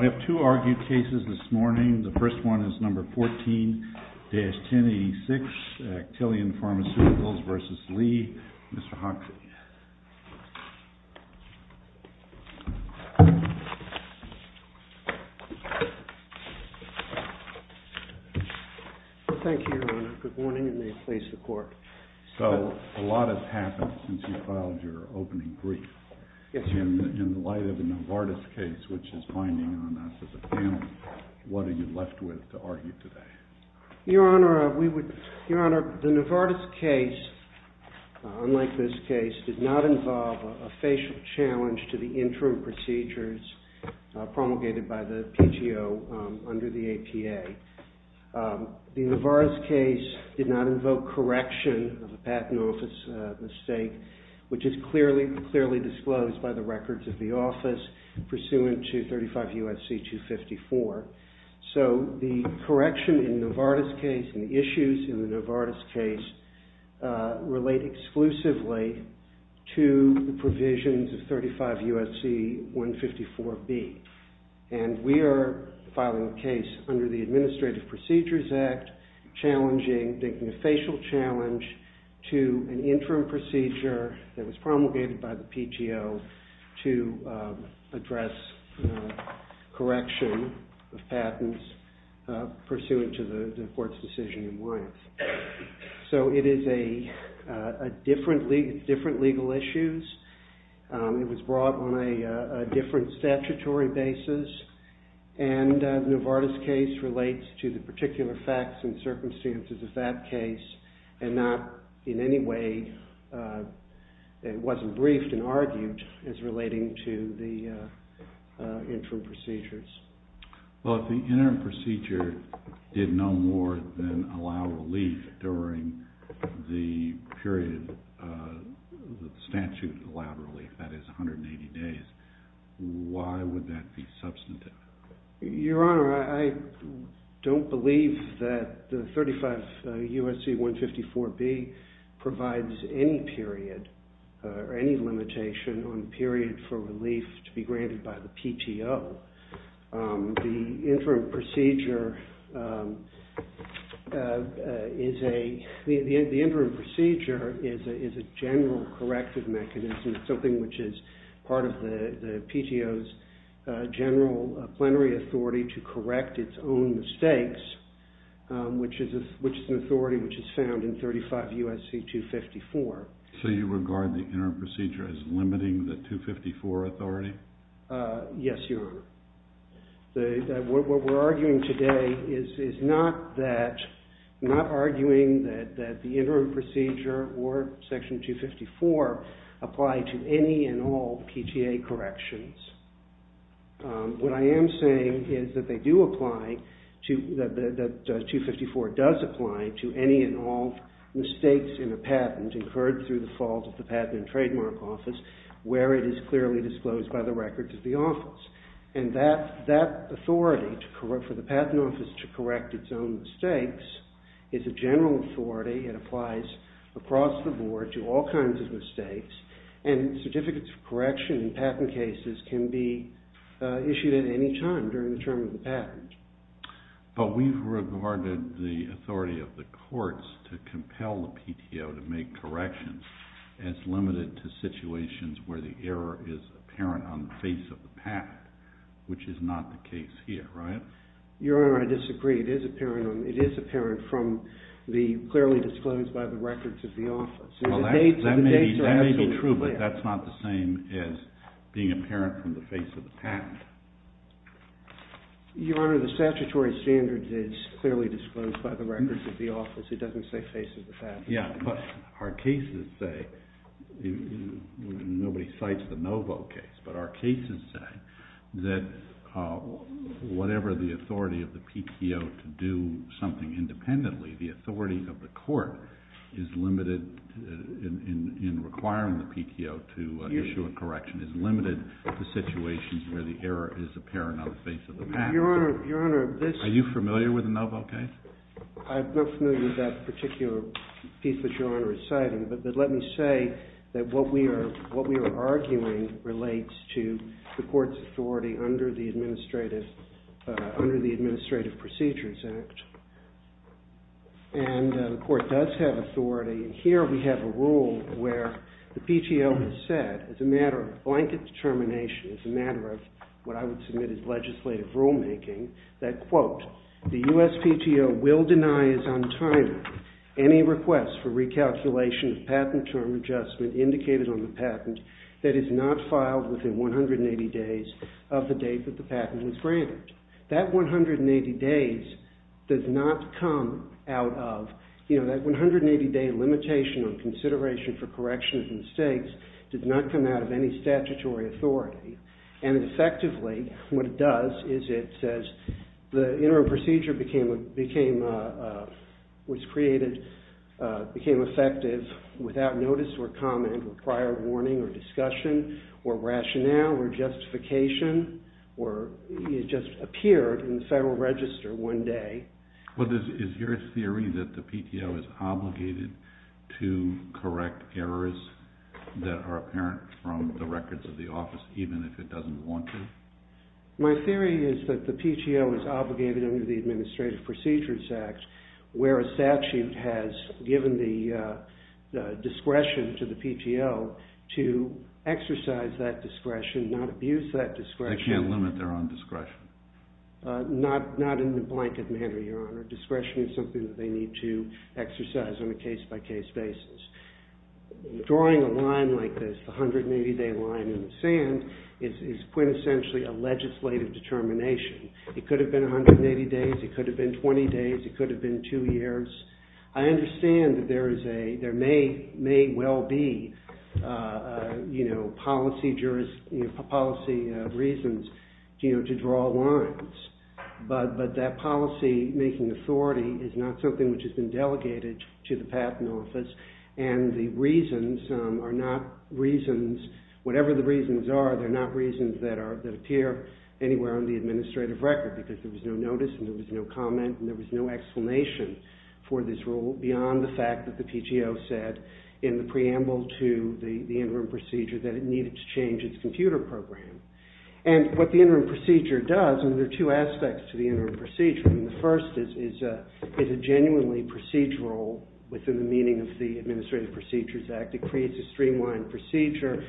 We have two argued cases this morning. The first one is No. 14-1086, Actelion Pharmaceuticals v. Lee. Mr. Hoxie. Thank you, Your Honor. Good morning, and may it please the Court. So, a lot has happened since you filed your opening brief. In the light of the Novartis case, which is binding on us as a family, what are you left with to argue today? Your Honor, the Novartis case, unlike this case, did not involve a facial challenge to the interim procedures promulgated by the PTO under the APA. The Novartis case did not invoke correction of a patent office mistake, which is clearly disclosed by the records of the office pursuant to 35 U.S.C. 254. So, the correction in the Novartis case and the issues in the Novartis case relate exclusively to the provisions of 35 U.S.C. 154B. And we are filing a case under the Administrative Procedures Act, challenging, making a facial challenge to an interim procedure that was promulgated by the PTO to address correction of patents pursuant to the Court's decision in Wyeth. So, it is a different legal issue. It was brought on a different statutory basis. And the Novartis case relates to the particular facts and circumstances of that case and not, in any way, it wasn't briefed and argued as relating to the interim procedures. Well, if the interim procedure did no more than allow relief during the period the statute allowed relief, that is 180 days, why would that be substantive? Your Honor, I don't believe that the 35 U.S.C. 154B provides any period or any limitation on period for relief to be granted by the PTO. The interim procedure is a general corrective mechanism, something which is part of the PTO's general plenary authority to correct its own mistakes, which is an authority which is found in 35 U.S.C. 254. So, you regard the interim procedure as limiting the 254 authority? Yes, Your Honor. What we're arguing today is not that, not arguing that the interim procedure or Section 254 apply to any and all PTA corrections. What I am saying is that they do apply, that 254 does apply to any and all mistakes in a patent incurred through the fault of the Patent and Trademark Office where it is clearly disclosed by the records of the office. And that authority for the Patent Office to correct its own mistakes is a general authority and applies across the board to all kinds of mistakes and certificates of correction in patent cases can be issued at any time during the term of the patent. But we've regarded the authority of the courts to compel the PTO to make corrections as limited to situations where the error is apparent on the face of the patent, which is not the case here, right? Your Honor, I disagree. It is apparent from the clearly disclosed by the records of the office. Well, that may be true, but that's not the same as being apparent from the face of the patent. Your Honor, the statutory standard is clearly disclosed by the records of the office. It doesn't say face of the patent. Yeah, but our cases say, nobody cites the Novo case, but our cases say that whatever the authority of the PTO to do something independently, the authority of the court is limited in requiring the PTO to issue a correction, is limited to situations where the error is apparent on the face of the patent. Your Honor, this… Are you familiar with the Novo case? I'm not familiar with that particular piece that Your Honor is citing, but let me say that what we are arguing relates to the court's authority under the Administrative Procedures Act. And the court does have authority, and here we have a rule where the PTO has said, as a matter of blanket determination, as a matter of what I would submit as legislative rulemaking, that, quote, the USPTO will deny as untimely any request for recalculation of patent term adjustment indicated on the patent that is not filed within 180 days of the date that the patent was granted. That 180 days does not come out of, you know, that 180 day limitation on consideration for corrections and stakes does not come out of any statutory authority. And effectively, what it does is it says the interim procedure became, was created, became effective without notice or comment or prior warning or discussion or rationale or justification, or it just appeared in the Federal Register one day. Well, is your theory that the PTO is obligated to correct errors that are apparent from the records of the office even if it doesn't want to? My theory is that the PTO is obligated under the Administrative Procedures Act where a statute has given the discretion to the PTO to exercise that discretion, not abuse that discretion. They can't limit their own discretion. Not in the blanket manner, Your Honor. Discretion is something that they need to exercise on a case-by-case basis. Drawing a line like this, the 180-day line in the sand, is quintessentially a legislative determination. It could have been 180 days. It could have been 20 days. It could have been two years. I understand that there may well be policy reasons to draw lines, but that policy-making authority is not something which has been delegated to the Patent Office. Whatever the reasons are, they're not reasons that appear anywhere on the administrative record because there was no notice and there was no comment and there was no explanation for this rule beyond the fact that the PTO said in the preamble to the interim procedure that it needed to change its computer program. What the interim procedure does, and there are two aspects to the interim procedure. The first is a genuinely procedural within the meaning of the Administrative Procedures Act. It creates a streamlined procedure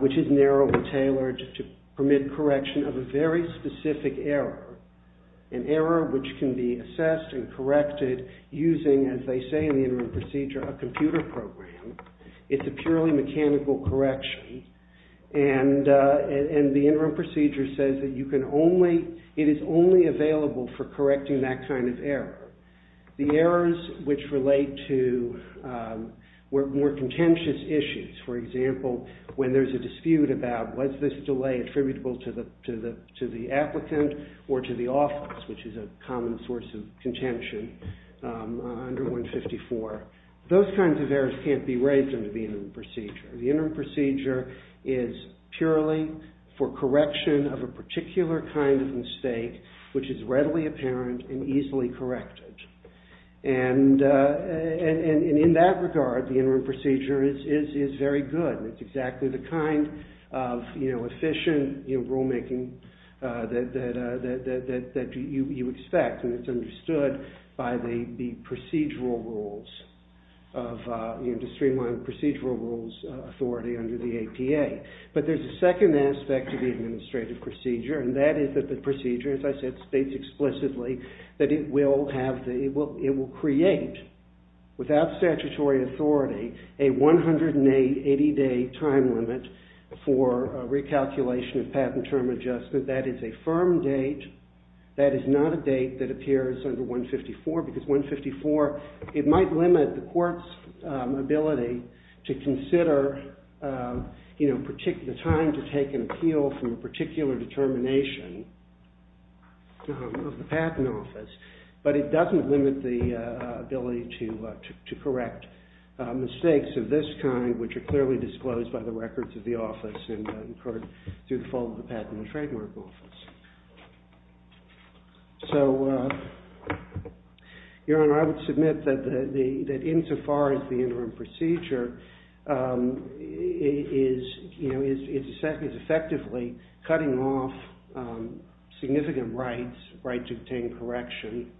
which is narrow and tailored to permit correction of a very specific error, an error which can be assessed and corrected using, as they say in the interim procedure, a computer program. It's a purely mechanical correction, and the interim procedure says that it is only available for correcting that kind of error. The errors which relate to more contentious issues, for example, when there's a dispute about was this delay attributable to the applicant or to the office, which is a common source of contention under 154. Those kinds of errors can't be raised under the interim procedure. The interim procedure is purely for correction of a particular kind of mistake which is readily apparent and easily corrected. In that regard, the interim procedure is very good. It's exactly the kind of efficient rulemaking that you expect, and it's understood by the procedural rules, the streamlined procedural rules authority under the APA. But there's a second aspect to the administrative procedure, and that is that the procedure, as I said, states explicitly that it will create, without statutory authority, a 180-day time limit for recalculation of patent term adjustment. So that is a firm date. That is not a date that appears under 154, because 154, it might limit the court's ability to consider the time to take an appeal from a particular determination of the patent office. But it doesn't limit the ability to correct mistakes of this kind, which are clearly disclosed by the records of the office and incurred through the fall of the patent and trademark office. So, Your Honor, I would submit that insofar as the interim procedure is effectively cutting off significant rights, right to obtain correction,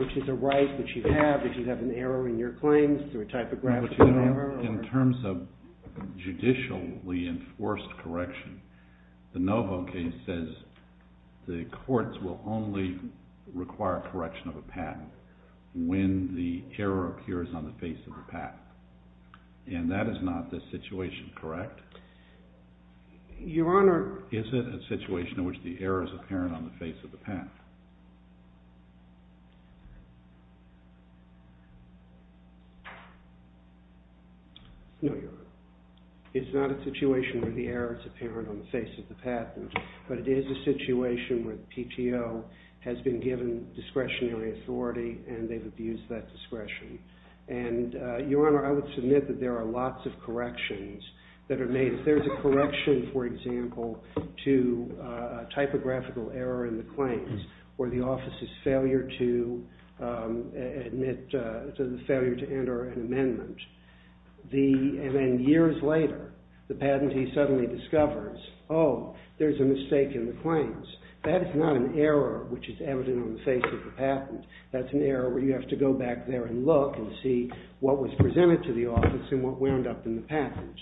which is a right that you have if you have an error in your claims through a type of gratitude error. In terms of judicially enforced correction, the Novo case says the courts will only require correction of a patent when the error appears on the face of the patent. And that is not the situation, correct? Your Honor… Is it a situation in which the error is apparent on the face of the patent? No, Your Honor. It's not a situation where the error is apparent on the face of the patent, but it is a situation where the PTO has been given discretionary authority and they've abused that discretion. And, Your Honor, I would submit that there are lots of corrections that are made. If there's a correction, for example, to a typographical error in the claims, or the office's failure to enter an amendment, and then years later, the patentee suddenly discovers, oh, there's a mistake in the claims. That is not an error which is evident on the face of the patent. That's an error where you have to go back there and look and see what was presented to the office and what wound up in the patent.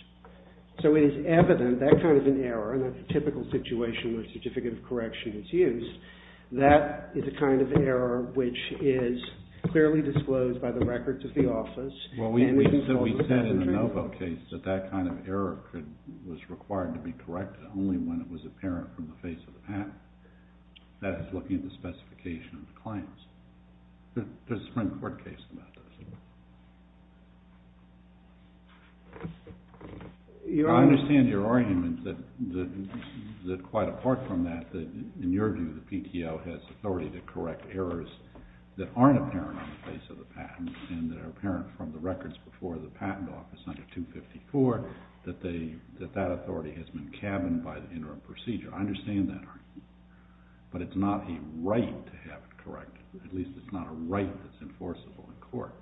So it is evident that kind of an error in a typical situation where a certificate of correction is used, that is a kind of error which is clearly disclosed by the records of the office. Well, we said in the Novo case that that kind of error was required to be corrected only when it was apparent from the face of the patent. That's looking at the specification of the claims. There's a Supreme Court case about this. I understand your argument that quite apart from that, in your view, the PTO has authority to correct errors that aren't apparent on the face of the patent and that are apparent from the records before the patent office under 254, that that authority has been cabined by the interim procedure. I understand that argument. But it's not a right to have it corrected. At least it's not a right that's enforceable in court.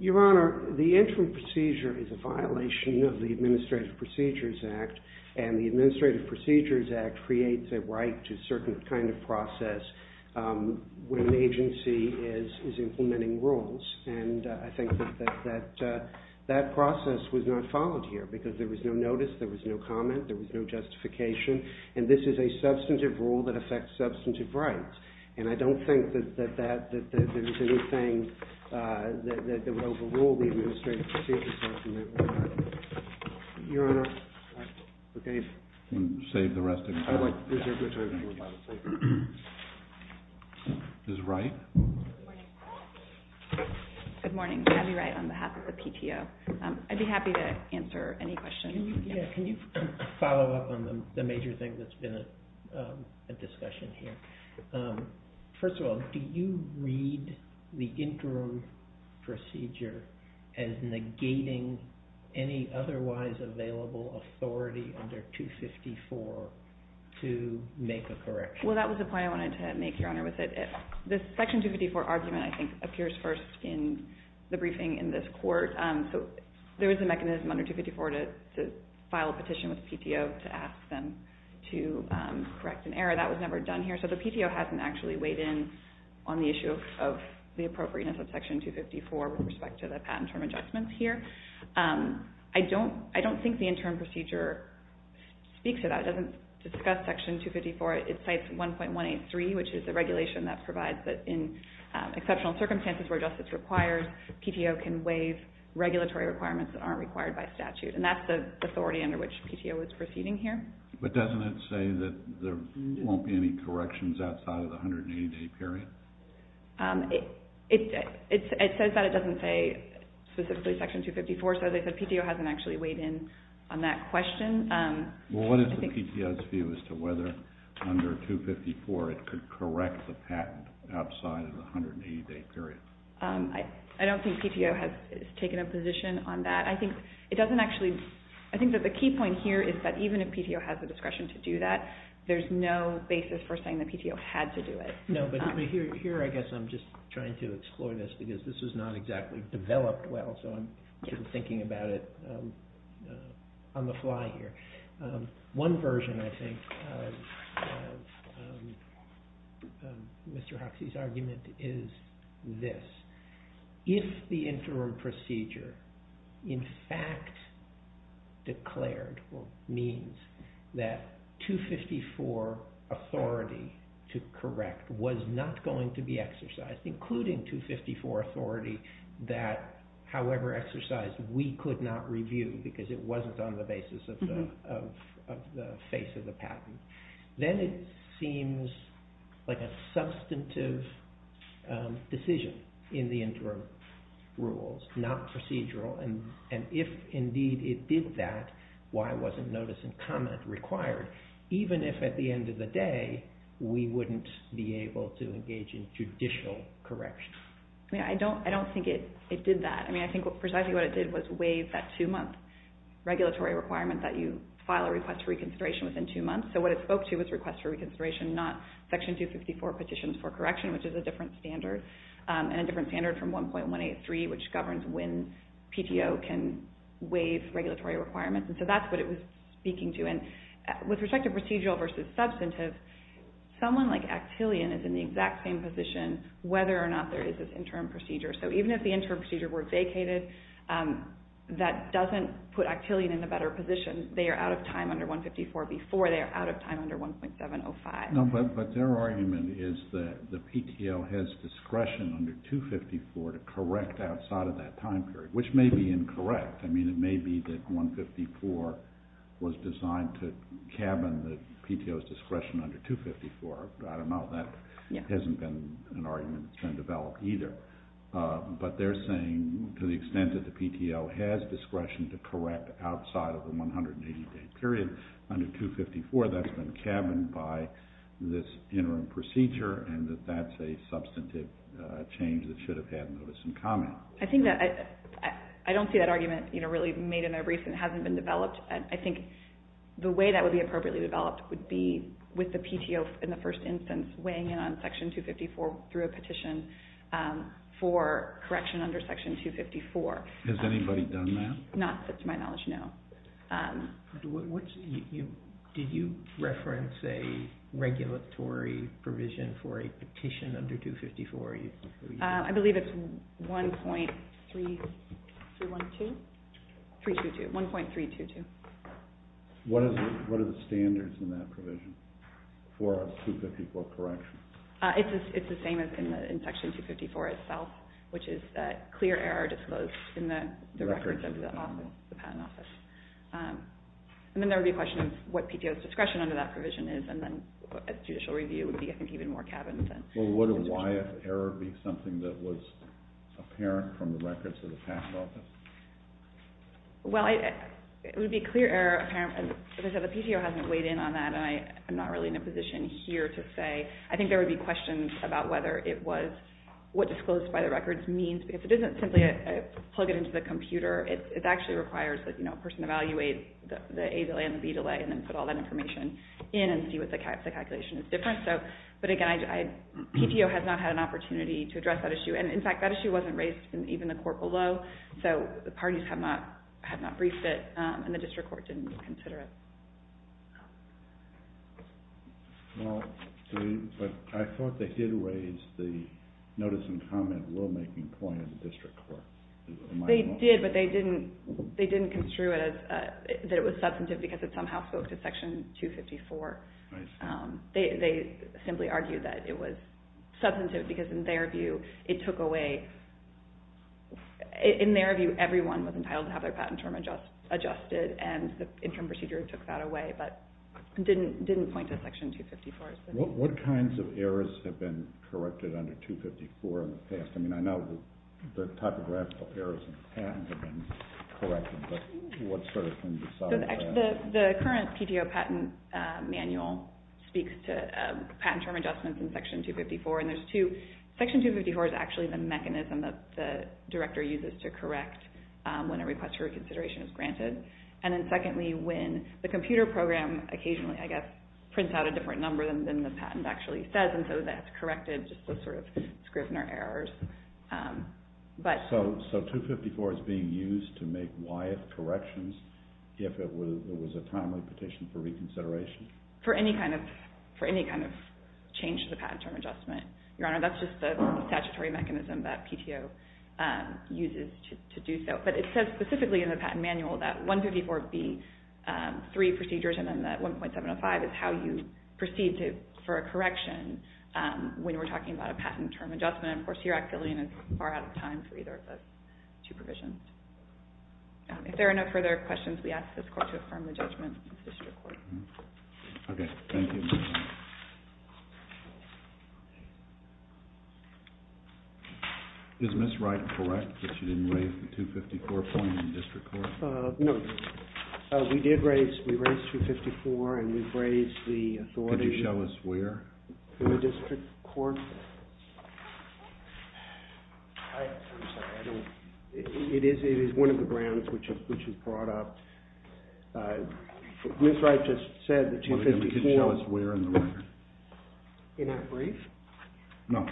Your Honor, the interim procedure is a violation of the Administrative Procedures Act, and the Administrative Procedures Act creates a right to certain kind of process when an agency is implementing rules. And I think that that process was not followed here because there was no notice, there was no comment, there was no justification. And this is a substantive rule that affects substantive rights. And I don't think that there's anything that would overrule the Administrative Procedures Act in that regard. Your Honor. Okay. Save the rest of the time. I'd like to preserve the time if you would, by the way. Ms. Wright? Good morning. Good morning. Abby Wright on behalf of the PTO. I'd be happy to answer any questions. Can you follow up on the major thing that's been a discussion here? First of all, do you read the interim procedure as negating any otherwise available authority under 254 to make a correction? Well, that was the point I wanted to make, Your Honor, with it. The Section 254 argument, I think, appears first in the briefing in this court. So there is a mechanism under 254 to file a petition with the PTO to ask them to correct an error. That was never done here. So the PTO hasn't actually weighed in on the issue of the appropriateness of Section 254 with respect to the patent term adjustments here. I don't think the interim procedure speaks to that. It doesn't discuss Section 254. It cites 1.183, which is the regulation that provides that in exceptional circumstances where justice requires, PTO can waive regulatory requirements that aren't required by statute. And that's the authority under which PTO is proceeding here. But doesn't it say that there won't be any corrections outside of the 180-day period? It says that. It doesn't say specifically Section 254. So, as I said, PTO hasn't actually weighed in on that question. Well, what is the PTO's view as to whether under 254 it could correct the patent outside of the 180-day period? I don't think PTO has taken a position on that. I think that the key point here is that even if PTO has the discretion to do that, there's no basis for saying that PTO had to do it. No, but here I guess I'm just trying to explore this because this is not exactly developed well, so I'm thinking about it on the fly here. One version, I think, of Mr. Hoxie's argument is this. If the interim procedure in fact declared or means that 254 authority to correct was not going to be exercised, including 254 authority that, however exercised, we could not review because it wasn't on the basis of the face of the patent, then it seems like a substantive decision in the interim rules, not procedural, and if indeed it did that, why wasn't notice and comment required, even if at the end of the day we wouldn't be able to engage in judicial correction? I don't think it did that. I think precisely what it did was waive that two-month regulatory requirement that you file a request for reconsideration within two months. So what it spoke to was request for reconsideration, not Section 254 petitions for correction, which is a different standard, and a different standard from 1.183, which governs when PTO can waive regulatory requirements. So that's what it was speaking to. With respect to procedural versus substantive, someone like Actillion is in the exact same position whether or not there is this interim procedure. So even if the interim procedure were vacated, that doesn't put Actillion in a better position. They are out of time under 154 before they are out of time under 1.705. But their argument is that the PTO has discretion under 254 to correct outside of that time period, which may be incorrect. I mean it may be that 154 was designed to cabin the PTO's discretion under 254. I don't know. That hasn't been an argument that's been developed either. But they're saying to the extent that the PTO has discretion to correct outside of the 180-day period under 254, that's been cabined by this interim procedure and that that's a substantive change that should have had notice and comment. I don't see that argument really made in a brief and hasn't been developed. I think the way that would be appropriately developed would be with the PTO in the first instance weighing in on Section 254 through a petition for correction under Section 254. Has anybody done that? Not to my knowledge, no. Did you reference a regulatory provision for a petition under 254? I believe it's 1.322. What are the standards in that provision for a 254 correction? It's the same as in Section 254 itself, which is that clear error disclosed in the records of the patent office. And then there would be a question of what PTO's discretion under that provision is, and then a judicial review would be, I think, even more cabined. Well, would a YF error be something that was apparent from the records of the patent office? Well, it would be a clear error. As I said, the PTO hasn't weighed in on that, and I'm not really in a position here to say. I think there would be questions about what disclosed by the records means, because it doesn't simply plug it into the computer. It actually requires that a person evaluate the A delay and the B delay and then put all that information in and see what the calculation is different. But, again, PTO has not had an opportunity to address that issue. And, in fact, that issue wasn't raised in even the court below. So the parties have not briefed it, and the district court didn't consider it. But I thought they did raise the notice and comment rulemaking point of the district court. They did, but they didn't construe it as that it was substantive because it somehow spoke to Section 254. They simply argued that it was substantive because, in their view, it took away In their view, everyone was entitled to have their patent term adjusted, and the interim procedure took that away. But it didn't point to Section 254. What kinds of errors have been corrected under 254 in the past? I mean, I know the typographical errors in the patents have been corrected, but what sort of things have been solved by that? So the current PTO patent manual speaks to patent term adjustments in Section 254. And there's two. Section 254 is actually the mechanism that the director uses to correct when a request for reconsideration is granted. And then, secondly, when the computer program occasionally, I guess, prints out a different number than the patent actually says, and so that's corrected just as sort of Scrivner errors. So 254 is being used to make WIAT corrections if it was a timely petition for reconsideration? For any kind of change to the patent term adjustment. Your Honor, that's just the statutory mechanism that PTO uses to do so. But it says specifically in the patent manual that 154B, three procedures, and then that 1.705 is how you proceed for a correction when we're talking about a patent term adjustment. Of course, here at Gillian, it's far out of time for either of those two provisions. If there are no further questions, we ask this Court to affirm the judgment of the District Court. Okay. Thank you. Is Ms. Wright correct that she didn't raise the 254 point in the District Court? No. We did raise 254, and we've raised the authority. Could you show us where? In the District Court? I'm sorry. It is one of the grounds which was brought up. Ms. Wright just said that 254. Could you show us where in the record? In that brief? No.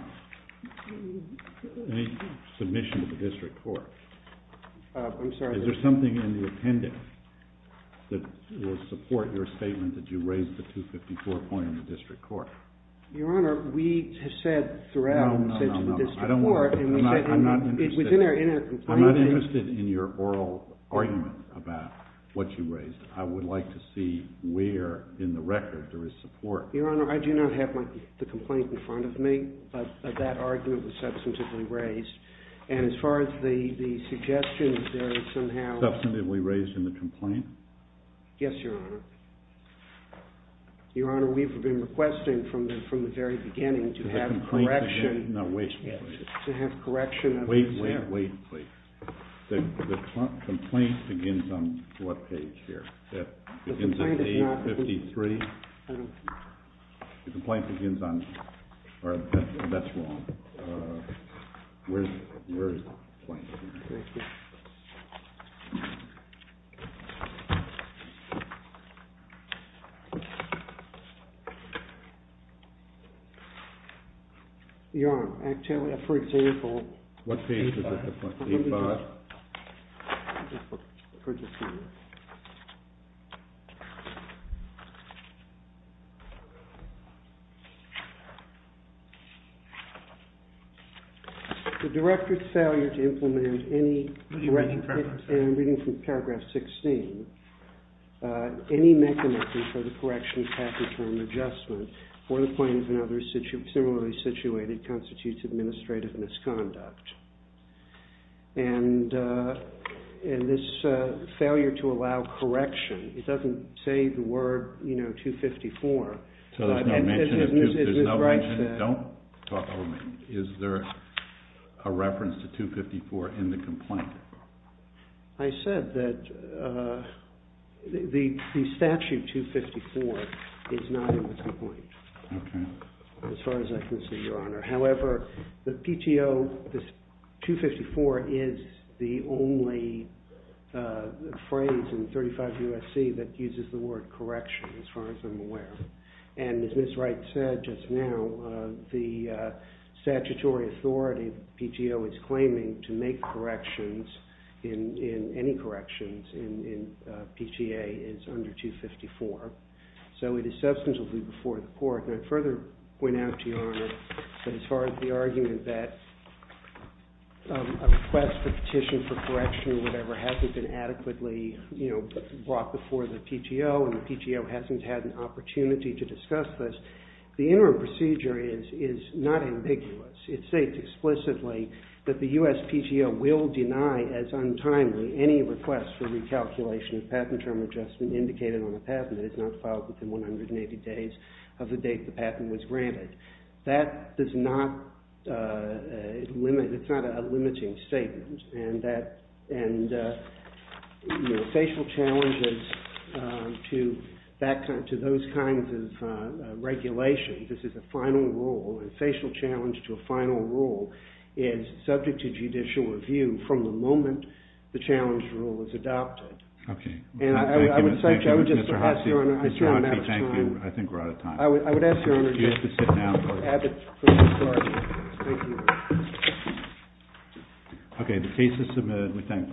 Any submission to the District Court? I'm sorry. Is there something in the appendix that will support your statement that you raised the 254 point in the District Court? Your Honor, we have said throughout the District Court. No, no, no. I'm not interested in your oral argument about what you raised. I would like to see where in the record there is support. Your Honor, I do not have the complaint in front of me, but that argument was substantively raised. And as far as the suggestion, is there somehow... Substantively raised in the complaint? Yes, Your Honor. Your Honor, we've been requesting from the very beginning to have correction. No, wait. To have correction. Wait, wait, wait, wait. The complaint begins on what page here? The complaint is not... It begins on page 53? The complaint begins on... That's wrong. Where is the complaint? Thank you. Your Honor, actually, for example... What page is it? 85. Your Honor... The director's failure to implement any... What are you reading from paragraph 16? I'm reading from paragraph 16. Any mechanism for the correction to have the term adjustment for the plaintiff and others similarly situated constitutes administrative misconduct. And this failure to allow correction, it doesn't say the word, you know, 254. So there's no mention of 254? Don't talk over me. Is there a reference to 254 in the complaint? I said that the statute 254 is not in the complaint. Okay. As far as I can see, Your Honor. However, the PTO, this 254 is the only phrase in 35 U.S.C. that uses the word correction, as far as I'm aware. And as Ms. Wright said just now, the statutory authority the PTO is claiming to make corrections, in any corrections in PTA, is under 254. So it is substantially before the court. And I'd further point out to you, Your Honor, that as far as the argument that a request for petition for correction or whatever hasn't been adequately, you know, brought before the PTO and the PTO hasn't had an opportunity to discuss this, the interim procedure is not ambiguous. It states explicitly that the USPTO will deny, as untimely, any request for recalculation of patent term adjustment indicated on a patent that is not filed within 180 days of the date the patent was granted. That does not limit, it's not a limiting statement. And that, you know, facial challenges to those kinds of regulations, this is a final rule, and facial challenge to a final rule is subject to judicial review from the moment the challenge rule is adopted. Okay. And I would just suggest, Your Honor, I see we're out of time. I think we're out of time. I would ask, Your Honor, just to add that. Thank you. Okay. The case is submitted.